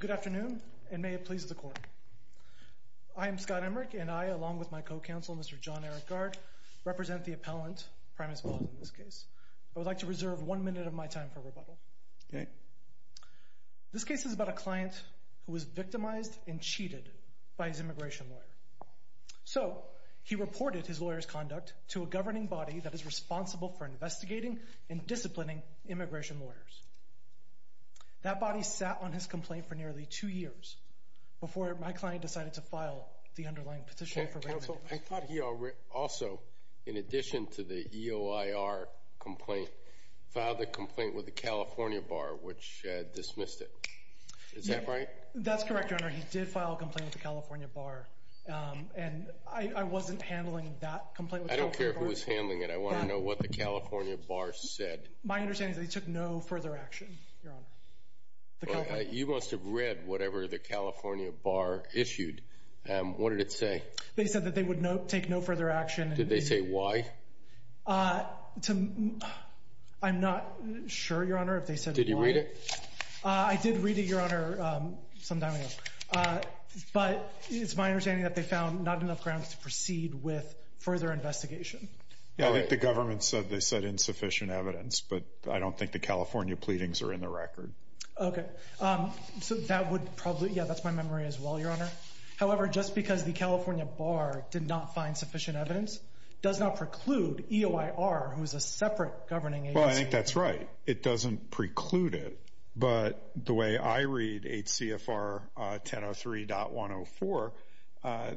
Good afternoon and may it please the court. I am Scott Emmerich and I along with my co-counsel Mr. John Eric Gard represent the appellant Prymas Vaz in this case. I would like to reserve one minute of my time for rebuttal. Okay. This case is about a client who was victimized and cheated by his immigration lawyer. So he reported his lawyer's conduct to a governing body that is responsible for investigating and disciplining immigration lawyers. That body sat on his complaint for nearly two years before my client decided to file the underlying petition. I thought he also in addition to the EOIR complaint filed a complaint with the California bar which dismissed it. Is that right? That's correct your honor. He did file a complaint with the California bar and I wasn't handling that complaint. I don't care who was handling it. I want to know what the California bar said. My understanding is that he took no further action your honor. You must have read whatever the California bar issued. What did it say? They said that they would not take no further action. Did they say why? I'm not sure your honor if they said why. Did you read it? I did read it your honor some time ago. But it's my understanding that they found not enough grounds to proceed with further investigation. I think the government said they said sufficient evidence but I don't think the California pleadings are in the record. Okay so that would probably yeah that's my memory as well your honor. However just because the California bar did not find sufficient evidence does not preclude EOIR who is a separate governing agency. Well I think that's right. It doesn't preclude it but the way I read 8 CFR 1003.104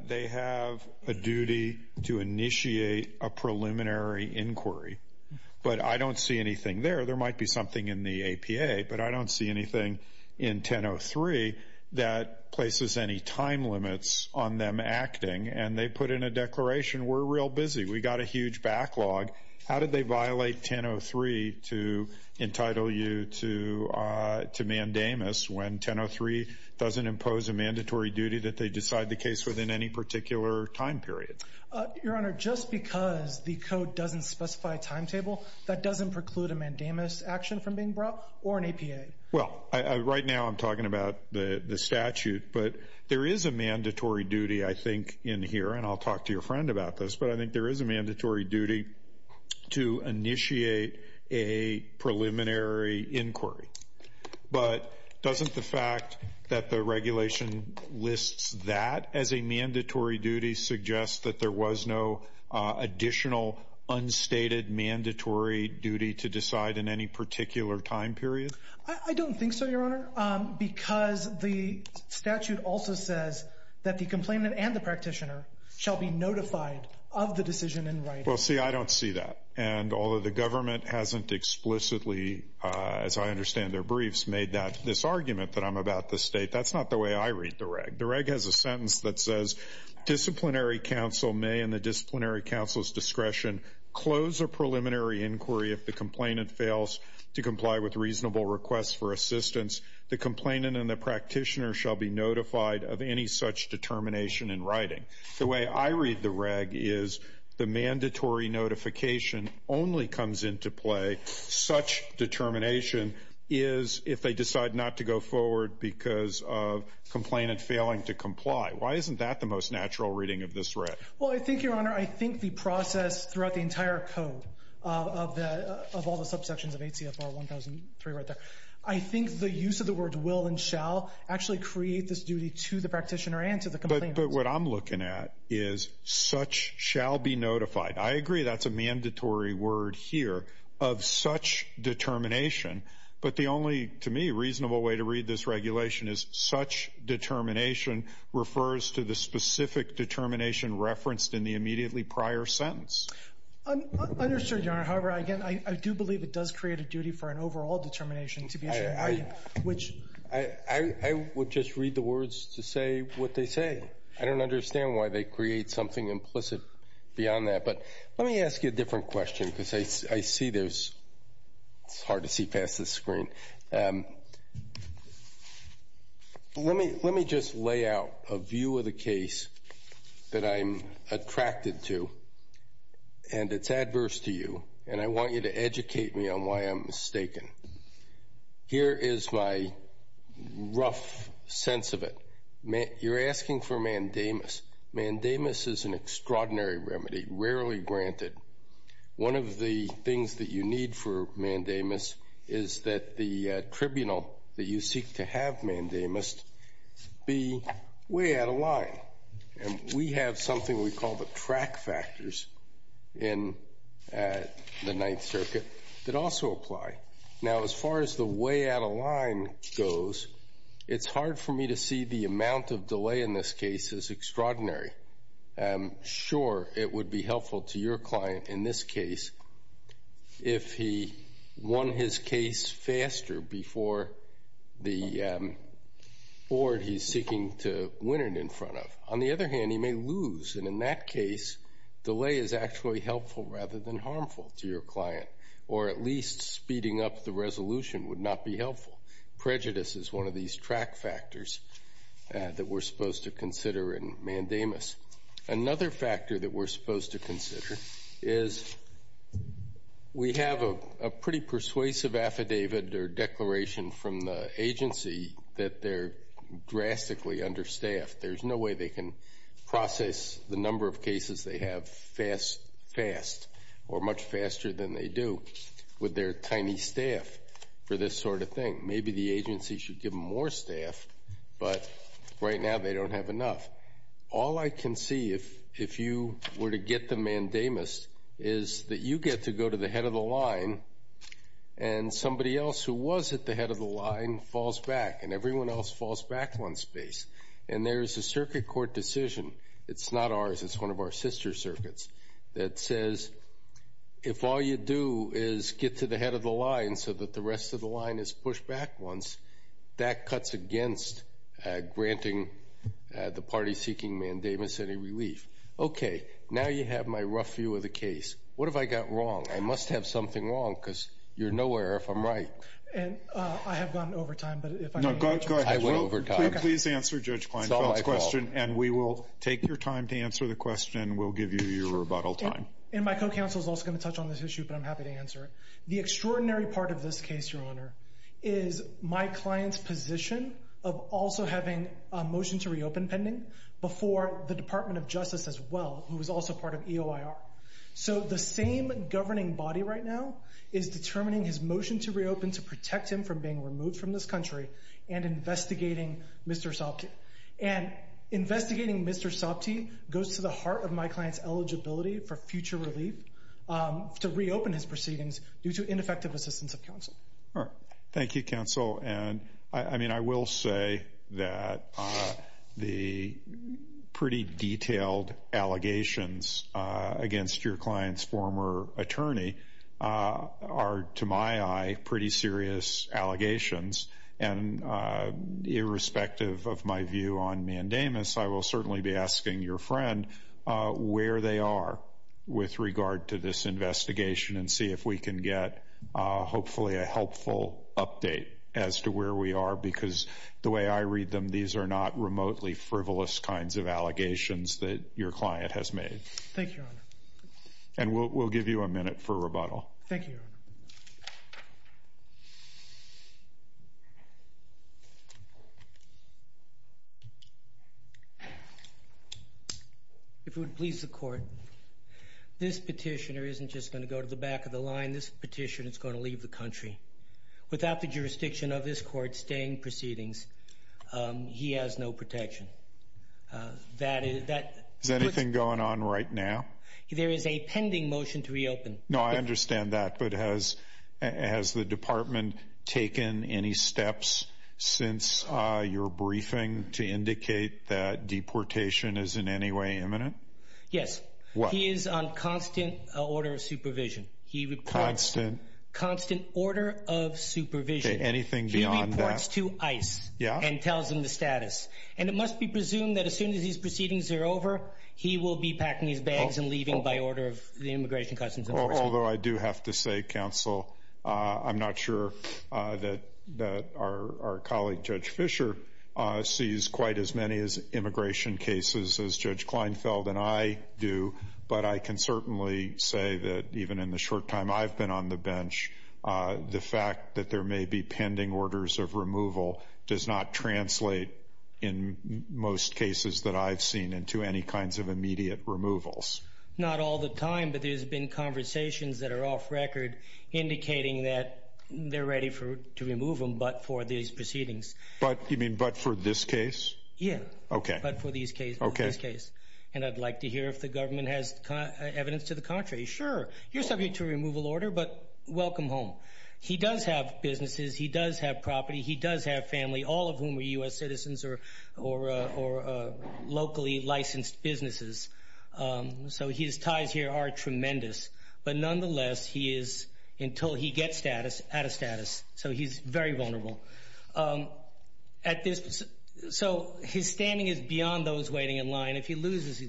they have a duty to initiate a but I don't see anything there. There might be something in the APA but I don't see anything in 1003 that places any time limits on them acting and they put in a declaration we're real busy. We got a huge backlog. How did they violate 1003 to entitle you to mandamus when 1003 doesn't impose a mandatory duty that they decide the case within any particular time period? Your honor just because the code doesn't specify timetable that doesn't preclude a mandamus action from being brought or an APA. Well right now I'm talking about the the statute but there is a mandatory duty I think in here and I'll talk to your friend about this but I think there is a mandatory duty to initiate a preliminary inquiry. But doesn't the fact that the regulation lists that as a additional unstated mandatory duty to decide in any particular time period? I don't think so your honor because the statute also says that the complainant and the practitioner shall be notified of the decision in writing. Well see I don't see that and although the government hasn't explicitly as I understand their briefs made that this argument that I'm about the state that's not the way I read the reg. The reg has a sentence that says disciplinary counsel may in the disciplinary counsel's discretion close a preliminary inquiry if the complainant fails to comply with reasonable requests for assistance. The complainant and the practitioner shall be notified of any such determination in writing. The way I read the reg is the mandatory notification only comes into play such determination is if they decide not to go forward because of complainant failing to comply. Why isn't that the natural reading of this reg? Well I think your honor I think the process throughout the entire code of all the subsections of ACFR 1003 right there I think the use of the word will and shall actually create this duty to the practitioner and to the complainant. But what I'm looking at is such shall be notified. I agree that's a mandatory word here of such determination but the only to me reasonable way to read this regulation is such determination refers to the specific determination referenced in the immediately prior sentence. I'm understood your honor. However, I do believe it does create a duty for an overall determination to be issued. I would just read the words to say what they say. I don't understand why they create something implicit beyond that. But let me ask you a different question because I see there's, it's hard to see past this screen. Let me just lay out a view of the case that I'm attracted to and it's adverse to you and I want you to educate me on why I'm mistaken. Here is my rough sense of it. You're asking for mandamus. Mandamus is an extraordinary remedy rarely granted. One of the things that you need for mandamus is that the tribunal that you seek to have mandamus be way out of line. And we have something we call the track factors in the Ninth Circuit that also apply. Now as far as the way out of line goes, it's hard for me to see the amount of delay in this case is extraordinary. I'm sure it would be bored he's seeking to win it in front of. On the other hand, he may lose. And in that case, delay is actually helpful rather than harmful to your client. Or at least speeding up the resolution would not be helpful. Prejudice is one of these track factors that we're supposed to consider in mandamus. Another factor that we're supposed to consider is we have a pretty persuasive affidavit or agency that they're drastically understaffed. There's no way they can process the number of cases they have fast or much faster than they do with their tiny staff for this sort of thing. Maybe the agency should give them more staff, but right now they don't have enough. All I can see if you were to get the mandamus is that you get to go to the head of the line and somebody else who was at the head of the line falls back and everyone else falls back on space. And there's a circuit court decision, it's not ours, it's one of our sister circuits, that says if all you do is get to the head of the line so that the rest of the line is pushed back once, that cuts against granting the party seeking mandamus any relief. Okay, now you have my rough view of the case. What have I got wrong? I must have something wrong because you're nowhere if I'm right. And I have gone over time. No, go ahead. I went over time. Please answer Judge Kleinfeld's question and we will take your time to answer the question. We'll give you your rebuttal time. And my co-counsel is also going to touch on this issue, but I'm happy to answer it. The extraordinary part of this case, Your Honor, is my client's position of also having a motion to reopen pending before the Department of Justice as well, who is also part of EOIR. So the same governing body right now is determining his motion to reopen to protect him from being removed from this country and investigating Mr. Sopte. And investigating Mr. Sopte goes to the heart of my client's eligibility for future relief to reopen his proceedings due to ineffective assistance of counsel. All right, thank you counsel. And I mean I will say that the pretty attorney are, to my eye, pretty serious allegations. And irrespective of my view on mandamus, I will certainly be asking your friend where they are with regard to this investigation and see if we can get hopefully a helpful update as to where we are. Because the way I read them, these are not remotely frivolous kinds of allegations that your client has made. Thank you, Your Honor. And we'll give you a minute for rebuttal. Thank you, Your Honor. If it would please the court, this petitioner isn't just going to go to the back of the line. This petitioner is going to leave the country. Without the that is that is anything going on right now? There is a pending motion to reopen. No, I understand that. But has has the department taken any steps since your briefing to indicate that deportation is in any way imminent? Yes, he is on constant order of supervision. He would constant, constant order of supervision. Anything beyond that reports to ice and tells him the status. And it must be soon as these proceedings are over, he will be packing his bags and leaving by order of the Immigration Customs. Although I do have to say, Counsel, I'm not sure that our colleague Judge Fisher sees quite as many as immigration cases as Judge Kleinfeld and I do. But I can certainly say that even in the short time I've been on the bench, the fact that there may be pending orders of removal does not translate in most cases that I've seen into any kinds of immediate removals. Not all the time, but there's been conversations that are off record indicating that they're ready for to remove them. But for these proceedings, but you mean, but for this case? Yeah, okay. But for these case, okay, this case, and I'd like to hear if the government has evidence to the contrary. Sure, you're subject to removal order, but welcome home. He does have businesses. He does have property. He does have family, all of whom are U.S. citizens or locally licensed businesses. So his ties here are tremendous. But nonetheless, he is, until he gets status, out of status. So he's very vulnerable. So his standing is beyond those waiting in line. If he loses, he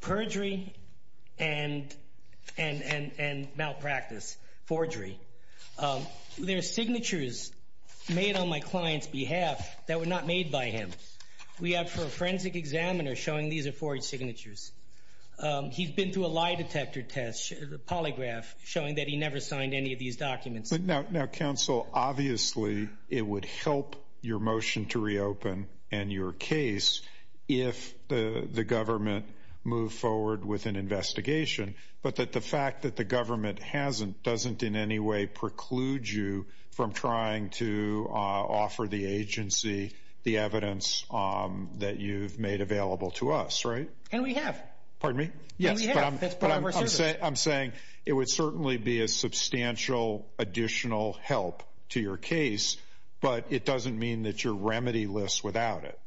perjury and malpractice, forgery. There are signatures made on my client's behalf that were not made by him. We have, for a forensic examiner, showing these are forged signatures. He's been through a lie detector test, a polygraph, showing that he never signed any of these documents. Now, counsel, obviously, it would help your motion to reopen and your case if the government move forward with an investigation. But that the fact that the government hasn't doesn't in any way preclude you from trying to offer the agency the evidence that you've made available to us, right? And we have pardon me. Yes, but I'm saying I'm saying it would certainly be a to your case, but it doesn't mean that your remedy lists without it.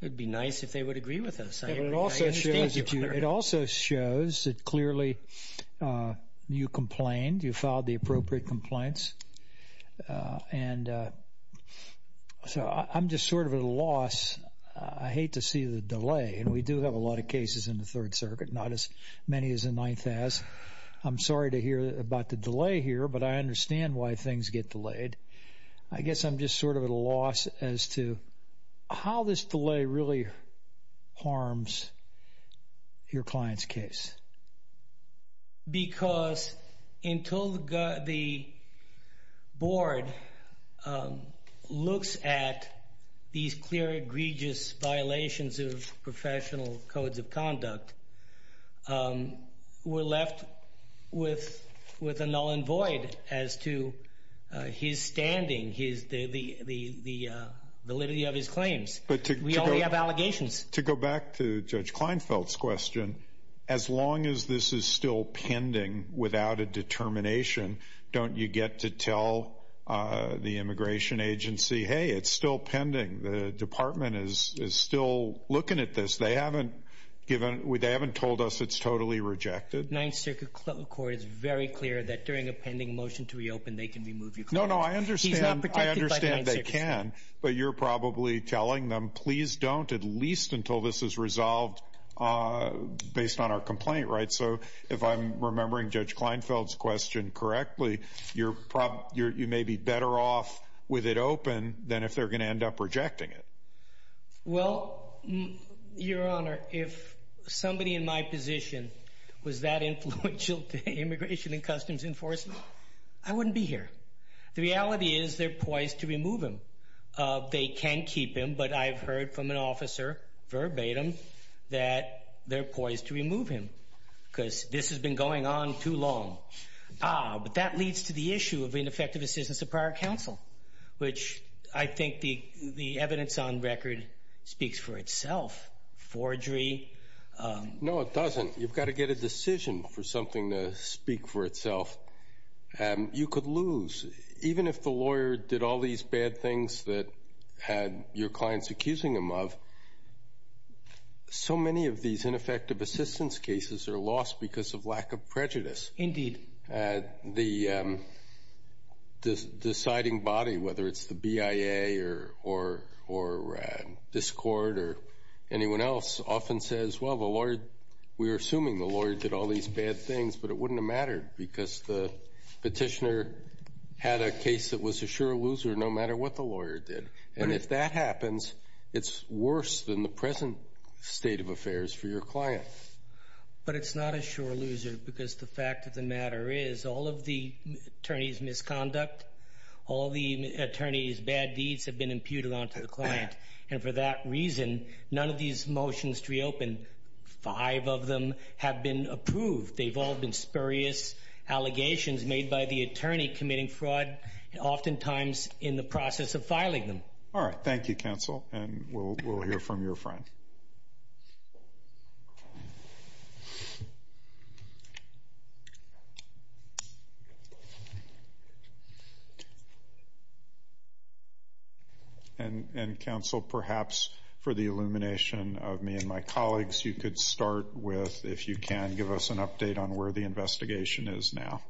It would be nice if they would agree with us. It also shows that clearly, uh, you complained. You filed the appropriate complaints. Uh, and, uh, so I'm just sort of a loss. I hate to see the delay. And we do have a lot of cases in the Third Circuit, not as many as a ninth as I'm sorry to hear about the delay here, but I understand why things get delayed. I guess I'm just sort of a loss as to how this delay really harms your client's case. Because until the board, um, looks at these clear egregious violations of void as to his standing, his the validity of his claims. But we have allegations to go back to Judge Kleinfeld's question. As long as this is still pending without a determination, don't you get to tell the immigration agency? Hey, it's still pending. The department is still looking at this. They haven't given. They haven't told us it's totally rejected. Ninth Circuit Court is very clear that during a pending motion to reopen, they can remove you. No, no, I understand. I understand they can, but you're probably telling them, Please don't, at least until this is resolved based on our complaint, right? So if I'm remembering Judge Kleinfeld's question correctly, you're probably you may be better off with it open than if they're gonna end up rejecting it. Well, Your Honor, if somebody in my position was that influential to immigration and customs enforcement, I wouldn't be here. The reality is they're poised to remove him. They can keep him. But I've heard from an officer verbatim that they're poised to remove him because this has been going on too long. Ah, but that leads to the issue of ineffective assistance of prior counsel, which I think the evidence on record speaks for decision for something to speak for itself. You could lose even if the lawyer did all these bad things that had your clients accusing him of so many of these ineffective assistance cases are lost because of lack of prejudice. Indeed, the deciding body, whether it's the B. I. A. Or or or discord or anyone else, often says, Well, the Lord, we're assuming the Lord did all these bad things, but it wouldn't have mattered because the petitioner had a case that was a sure loser no matter what the lawyer did. And if that happens, it's worse than the present state of affairs for your client. But it's not a sure loser because the fact of the matter is all of the attorneys misconduct. All the attorneys bad deeds have been imputed onto the client. And for that reason, none of these motions reopen. Five of them have been approved. They've all been spurious allegations made by the attorney committing fraud, oftentimes in the process of filing them. All right. Thank you, Council. And we'll hear for the illumination of me and my colleagues. You could start with if you can give us an update on where the investigation is now.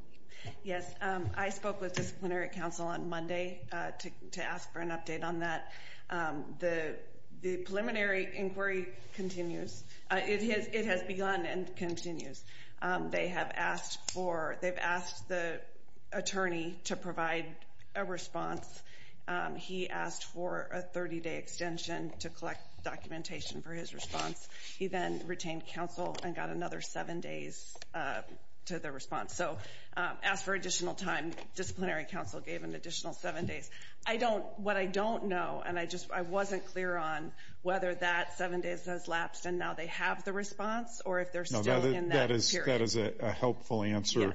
Yes, I spoke with disciplinary counsel on Monday to ask for an update on that. The preliminary inquiry continues. It has. It has begun and continues. They have asked for they've asked the attorney to provide a response. He asked for a 30 day extension to collect documentation for his response. He then retained counsel and got another seven days to the response. So as for additional time, disciplinary counsel gave an additional seven days. I don't what I don't know. And I just I wasn't clear on whether that seven days has lapsed. And now they have the response or if they're still in that is that is a helpful answer.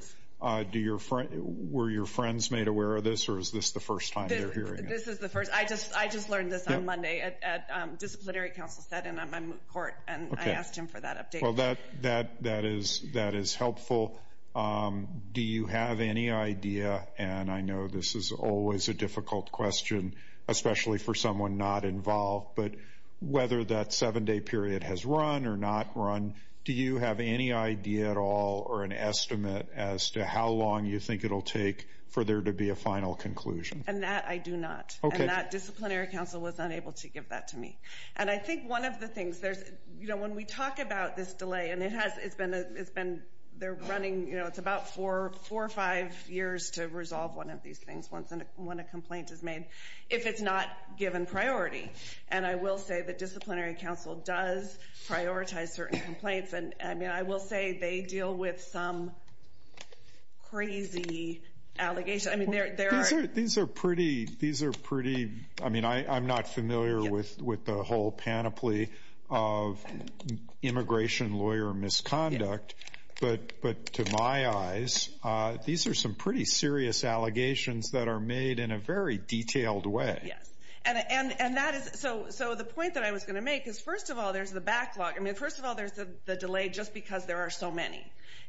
Do your were your friends made aware of this? Or is this the first this is the first I just I just learned this on Monday at disciplinary counsel said, and I'm court and I asked him for that update. Well, that that that is that is helpful. Do you have any idea? And I know this is always a difficult question, especially for someone not involved. But whether that seven day period has run or not run, do you have any idea at all or an estimate as to how long you think it will take for there to be a final conclusion? And that I do not. Okay. That disciplinary counsel was unable to give that to me. And I think one of the things there's, you know, when we talk about this delay and it has it's been it's been they're running, you know, it's about 44 or five years to resolve one of these things once and when a complaint is made, if it's not given priority. And I will say that disciplinary counsel does prioritize certain complaints. And I mean, I will say they deal with some crazy allegations. I mean, there are these are pretty. These are pretty. I mean, I'm not familiar with with the whole panoply of immigration lawyer misconduct. But but to my eyes, these are some pretty serious allegations that are made in a very detailed way. Yes. And and and that is so. So the point that I was going to make is, first of all, there's the backlog. I mean, first of all, there's the delay just because there are so many.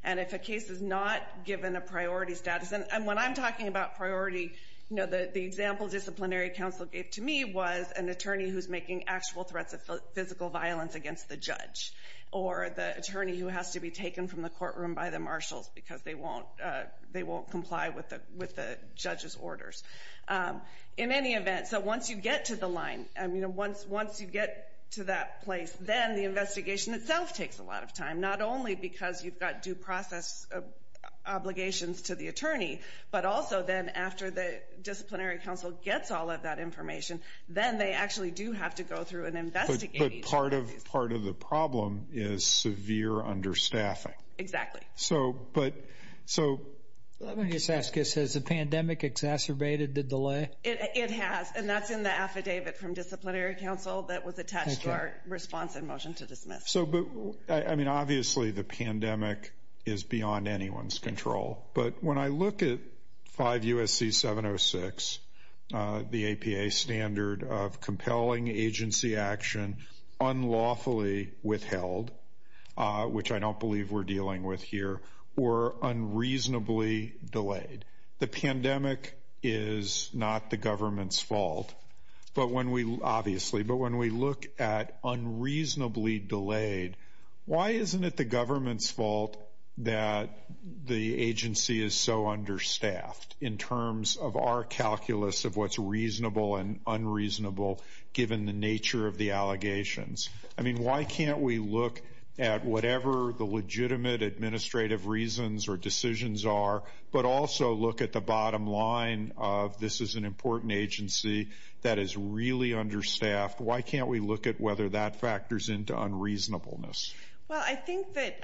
And if a case is not given a priority status and when I'm talking about priority, you know, the example disciplinary counsel gave to me was an attorney who's making actual threats of physical violence against the judge or the attorney who has to be taken from the courtroom by the marshals because they won't they won't comply with the with the judge's orders in any event. So once you get to the line, I mean, once once you get to that place, then the investigation itself takes a lot of time, not only because you've got due process obligations to the attorney, but also then after the disciplinary counsel gets all of that information, then they actually do have to go through and investigate. But part of part of the problem is severe understaffing. Exactly. So but so let me just ask you, says the pandemic exacerbated the delay. It has. And that's in the affidavit from disciplinary counsel that was attached to our response and motion to dismiss. So, but I mean, obviously, the pandemic is beyond anyone's control. But when I look at five U. S. C. 706, the A. P. A. Standard of compelling agency action unlawfully withheld, which I don't believe we're dealing with here or unreasonably delayed. The pandemic is not the government's fault. But when we obviously, but when we look at unreasonably delayed, why isn't it the government's fault that the agency is so understaffed in terms of our calculus of what's reasonable and unreasonable, given the nature of the allegations? I mean, why can't we look at whatever the legitimate administrative reasons or decisions are, but also look at the bottom line off? This is an important agency that is really understaffed. Why can't we look at whether that factors into unreasonableness? Well, I think that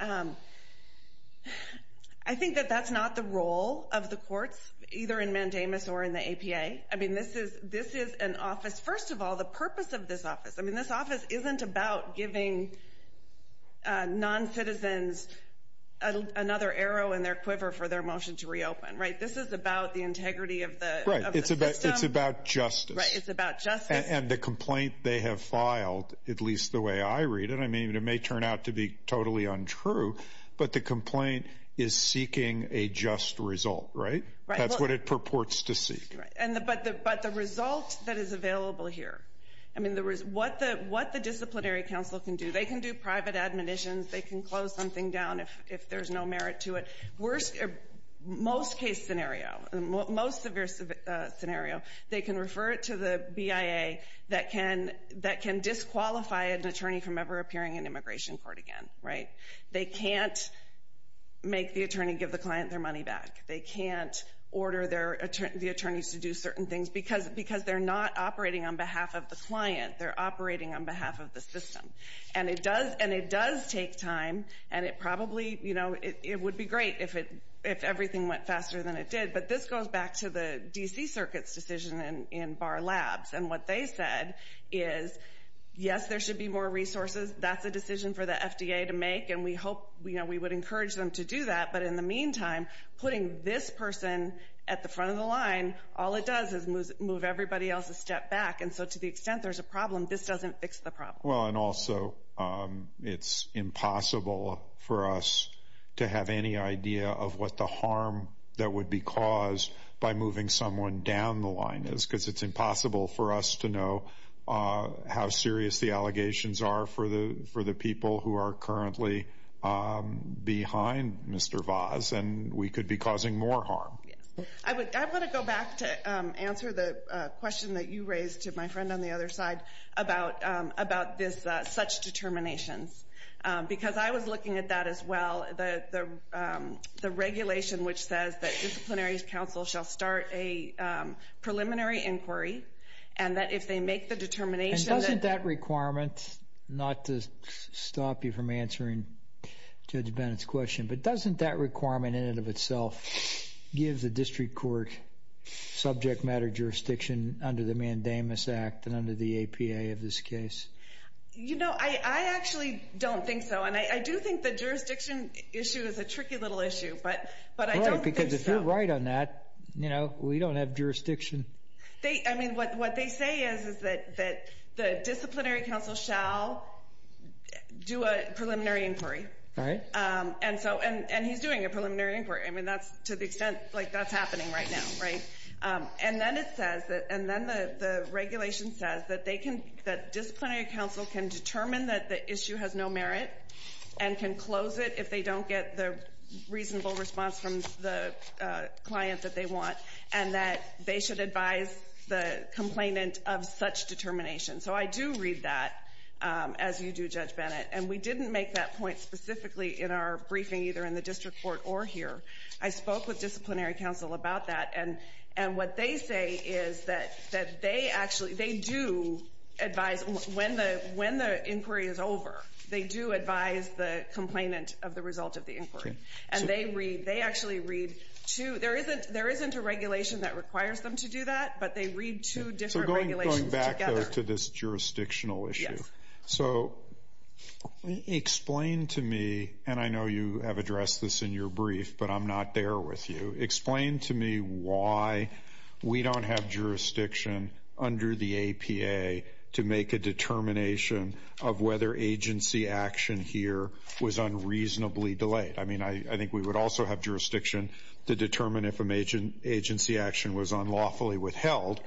I think that that's not the role of the courts, either in mandamus or in the A. P. A. I mean, this is this is an office. First of all, the purpose of this office. I mean, this office isn't about giving non citizens another arrow in their quiver for their motion to reopen, right? This is about the right. It's about. It's about justice. It's about just and the complaint they have filed, at least the way I read it. I mean, it may turn out to be totally untrue, but the complaint is seeking a just result, right? That's what it purports to see. And but but the result that is available here. I mean, there is what the what the disciplinary council can do. They can do private administrations. They can close something down if if there's no merit to it. Worst most case scenario, most of your scenario. They can refer it to the B. I. A. That can that can disqualify an attorney from ever appearing in immigration court again, right? They can't make the attorney give the client their money back. They can't order their attorneys to do certain things because because they're not operating on behalf of the client. They're operating on behalf of the system, and it does, and it does take time, and it probably, you know, it would be great if it if everything went faster than it did. But this goes back to the D. C. Circuit's decision in Bar Labs and what they said is yes, there should be more resources. That's a decision for the FDA to make, and we hope we would encourage them to do that. But in the meantime, putting this person at the front of the line, all it does is move everybody else a step back. And so to the extent there's a for us to have any idea of what the harm that would be caused by moving someone down the line is because it's impossible for us to know how serious the allegations are for the for the people who are currently behind Mr Voss and we could be causing more harm. I would I want to go back to answer the question that you raised to my friend on the other side about about this such determinations, because I was looking at that as well. The regulation which says that disciplinary counsel shall start a preliminary inquiry and that if they make the determination... And doesn't that requirement, not to stop you from answering Judge Bennett's question, but doesn't that requirement in and of itself give the district court subject matter jurisdiction under the Mandamus Act and under the APA of this case? You know, I actually don't think so. And I do think the jurisdiction issue is a tricky little issue, but but I don't think so. Because if you're right on that, you know, we don't have jurisdiction. They I mean, what what they say is, is that that the disciplinary counsel shall do a preliminary inquiry. Right. And so and he's doing a preliminary inquiry. I mean, that's to the extent like that's happening right now. Right. And then it says that and then the regulation says that they can that disciplinary counsel can determine that the issue has no merit and can close it if they don't get the reasonable response from the client that they want and that they should advise the complainant of such determination. So I do read that as you do, Judge Bennett. And we didn't make that point specifically in our briefing, either in the district court or here. I spoke with disciplinary counsel about that. And and what they say is that that they actually they do advise when the when the inquiry is over. They do advise the complainant of the result of the inquiry. And they read they actually read to there isn't there isn't a regulation that requires them to do that. But they read two different regulations. Going back to this jurisdictional issue. So explain to me and I know you have addressed this in your brief, but I'm not there with you. Explain to me why we don't have jurisdiction under the APA to make a determination of whether agency action here was unreasonably delayed. I mean, I think we would also have jurisdiction to determine if an agency action was unlawfully withheld,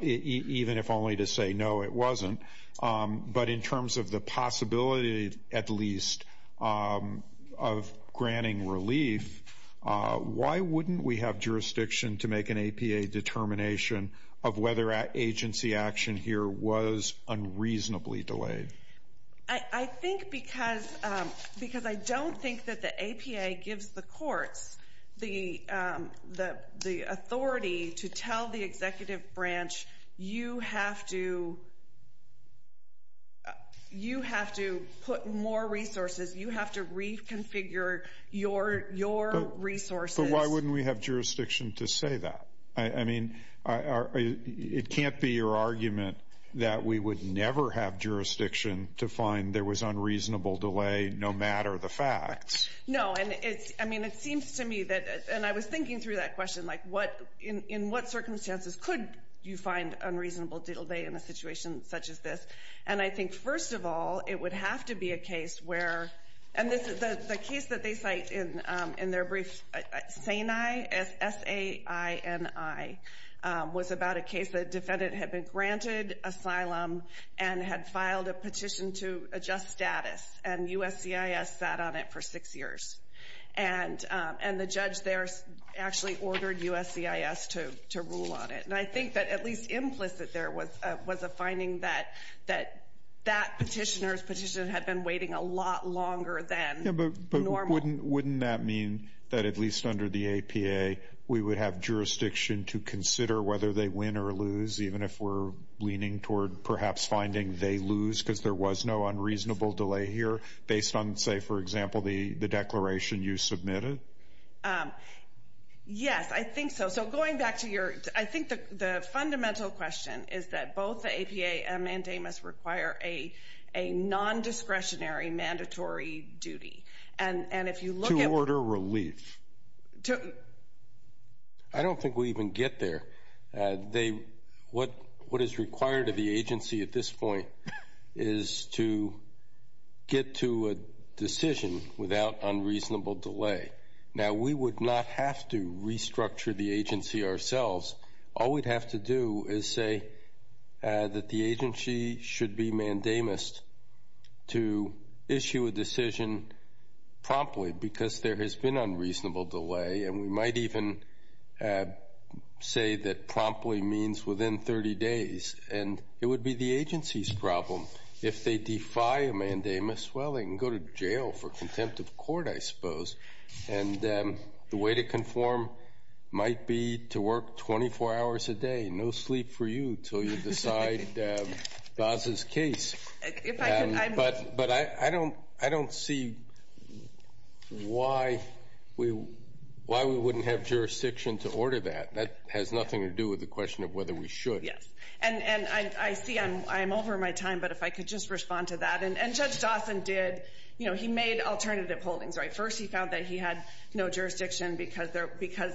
even if only to say no, it wasn't. But in terms of the possibility, at least, of granting relief, why wouldn't we have jurisdiction to make an APA determination of whether agency action here was unreasonably delayed? I think because because I don't think that the APA gives the courts the the the authority to tell the executive branch, you have to you have to put more resources, you have to reconfigure your your resources. But why wouldn't we have jurisdiction to say that? I mean, it can't be your argument that we would never have jurisdiction to find there was unreasonable delay no matter the facts. No, and it's I mean it seems to me that and I was thinking through that question like what in in what circumstances could you find unreasonable delay in a situation such as this? And I think first of all it would have to be a case where and this the case that they cite in in their brief, SAINI, S-A-I-N-I, was about a case that defendant had been granted asylum and had filed a petition to adjust status and USCIS sat on it for six years. And and the judge there actually ordered USCIS to to rule on it. And I think that at least implicit there was was a finding that that that petitioner's petition had been waiting a But wouldn't wouldn't that mean that at least under the APA we would have jurisdiction to consider whether they win or lose even if we're leaning toward perhaps finding they lose because there was no unreasonable delay here based on say for example the the declaration you submitted? Yes, I think so. So going back to your I think the the fundamental question is that both the APA and mandamus require a a non-discretionary mandatory duty. And and if you look at... To order relief. I don't think we even get there. They what what is required of the agency at this point is to get to a decision without unreasonable delay. Now we would not have to restructure the agency ourselves. All we'd have to do is say that the agency should be mandamus to issue a decision promptly because there has been unreasonable delay. And we might even say that promptly means within 30 days. And it would be the agency's problem if they defy a mandamus. Well they can go to jail for contempt of court I suppose. And the way to conform might be to work 24 hours a day. No sleep for you till you decide Dawson's case. But but I I don't I don't see why we why we wouldn't have jurisdiction to order that. That has nothing to do with the question of whether we should. Yes and and I see I'm I'm over my time but if I could just respond to that. And Judge Dawson did you know he made alternative holdings right. First he found that he had no jurisdiction because there because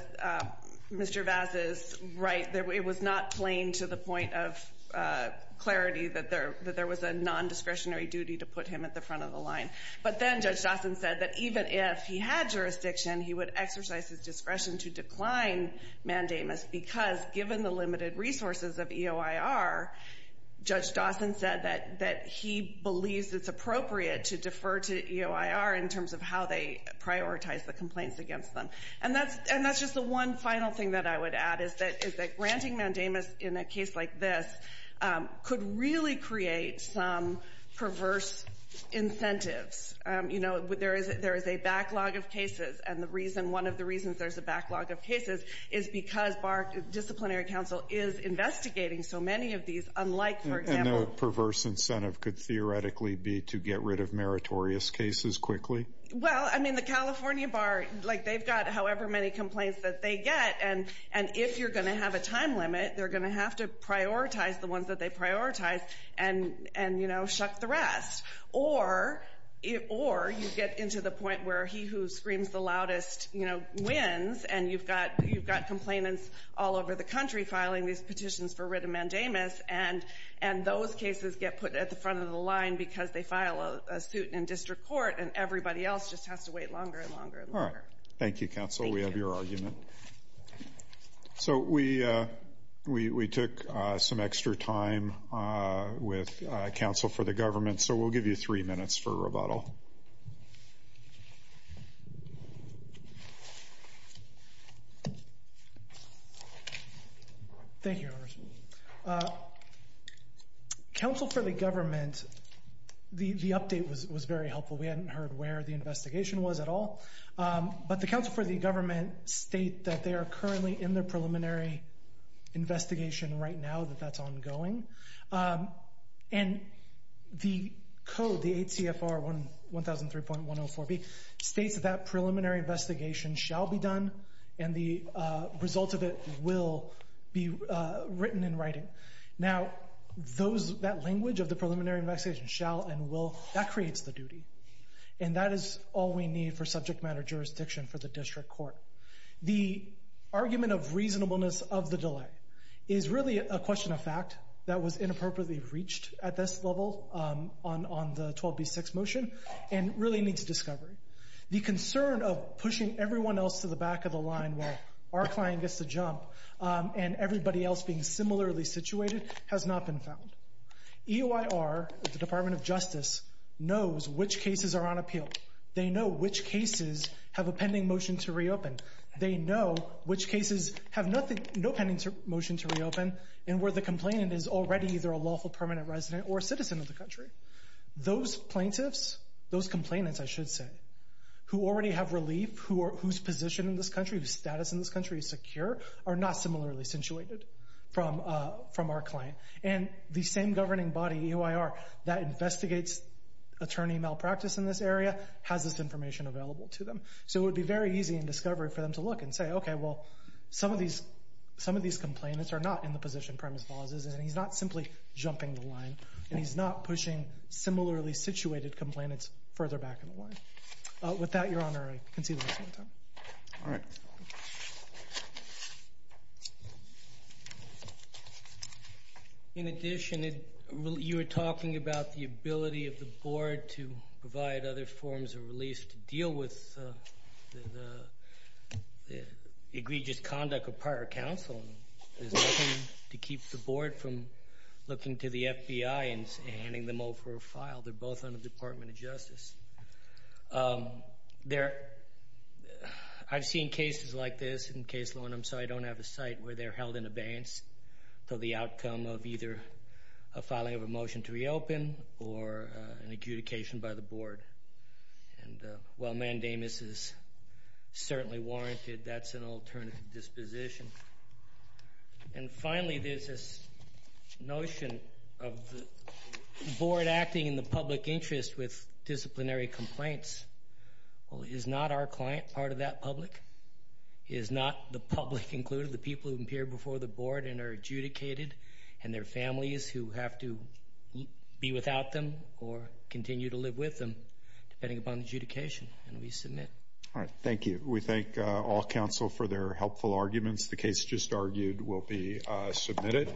Mr. Vaz is right there. It was not plain to the point of clarity that there that there was a non-discretionary duty to put him at the front of the line. But then Judge Dawson said that even if he had jurisdiction he would exercise his discretion to decline mandamus because given the limited resources of EOIR, Judge Dawson said that that he believes it's appropriate to defer to EOIR in terms of how they prioritize the complaints against them. And that's and that's just the one final thing that I would add is that is that granting mandamus in a case like this could really create some perverse incentives. You know there is there is a backlog of cases and the reason one of the reasons there's a backlog of cases is because BARC disciplinary counsel is investigating so many of these unlike for And the perverse incentive could theoretically be to get rid of meritorious cases quickly? Well I mean the California BARC like they've got however many complaints that they get and and if you're gonna have a time limit they're gonna have to prioritize the ones that they prioritize and and you know shuck the rest or it or you get into the point where he who screams the loudest you know wins and you've got you've got complainants all over the country filing these petitions for writ of mandamus and and those cases get put at the front of the line because they file a suit in district court and everybody else just has to wait longer and longer. Thank you counsel we have your argument. So we we took some extra time with counsel for the government so we'll give you three minutes for rebuttal. Thank you. Counsel for the government the the update was was very helpful we hadn't heard where the investigation was at all but the counsel for the government state that they are currently in the preliminary investigation right now that that's ongoing and the code the ACFR one one thousand three point one oh four B states that that preliminary investigation shall be done and the result of it will be written in writing now those that language of the preliminary investigation shall and will that creates the duty and that is all we need for subject matter jurisdiction for the district court. The argument of reasonableness of the delay is really a question of fact that was inappropriately reached at this level on on the 12b6 motion and really needs discovery. The concern of pushing everyone else to the back of the line while our client gets to jump and everybody else being similarly situated has not been found. EOIR the Department of Justice knows which cases are on appeal. They know which cases have a pending motion to reopen. They know which cases have nothing no pending motion to reopen and where the complainant is already either a lawful permanent resident or citizen of the country. Those plaintiffs those complainants I should say who already have relief who whose position in this country whose status in this country is secure are not similarly situated from from our client and the same governing body EOIR that investigates attorney malpractice in this area has this information available to them. So it would be very easy in discovery for them to look and say okay well some of these some of these complainants are not in the position premise clauses and he's not simply jumping the line and he's not pushing similarly situated complainants further back in the line. With that your Honor I All right. In addition you were talking about the ability of the board to provide other forms of release to deal with the egregious conduct of prior counsel. There's nothing to keep the board from looking to the FBI and handing them for a file. They're both under the Department of Justice. There I've seen cases like this in case law and I'm sorry I don't have a site where they're held in abeyance to the outcome of either a filing of a motion to reopen or an adjudication by the board. And while mandamus is certainly warranted that's an alternative disposition. And finally there's this notion of the board acting in the public interest with disciplinary complaints. Well is not our client part of that public? Is not the public included the people who appear before the board and are adjudicated and their families who have to be without them or continue to live with them depending upon adjudication and we submit. All counsel for their helpful arguments the case just argued will be submitted.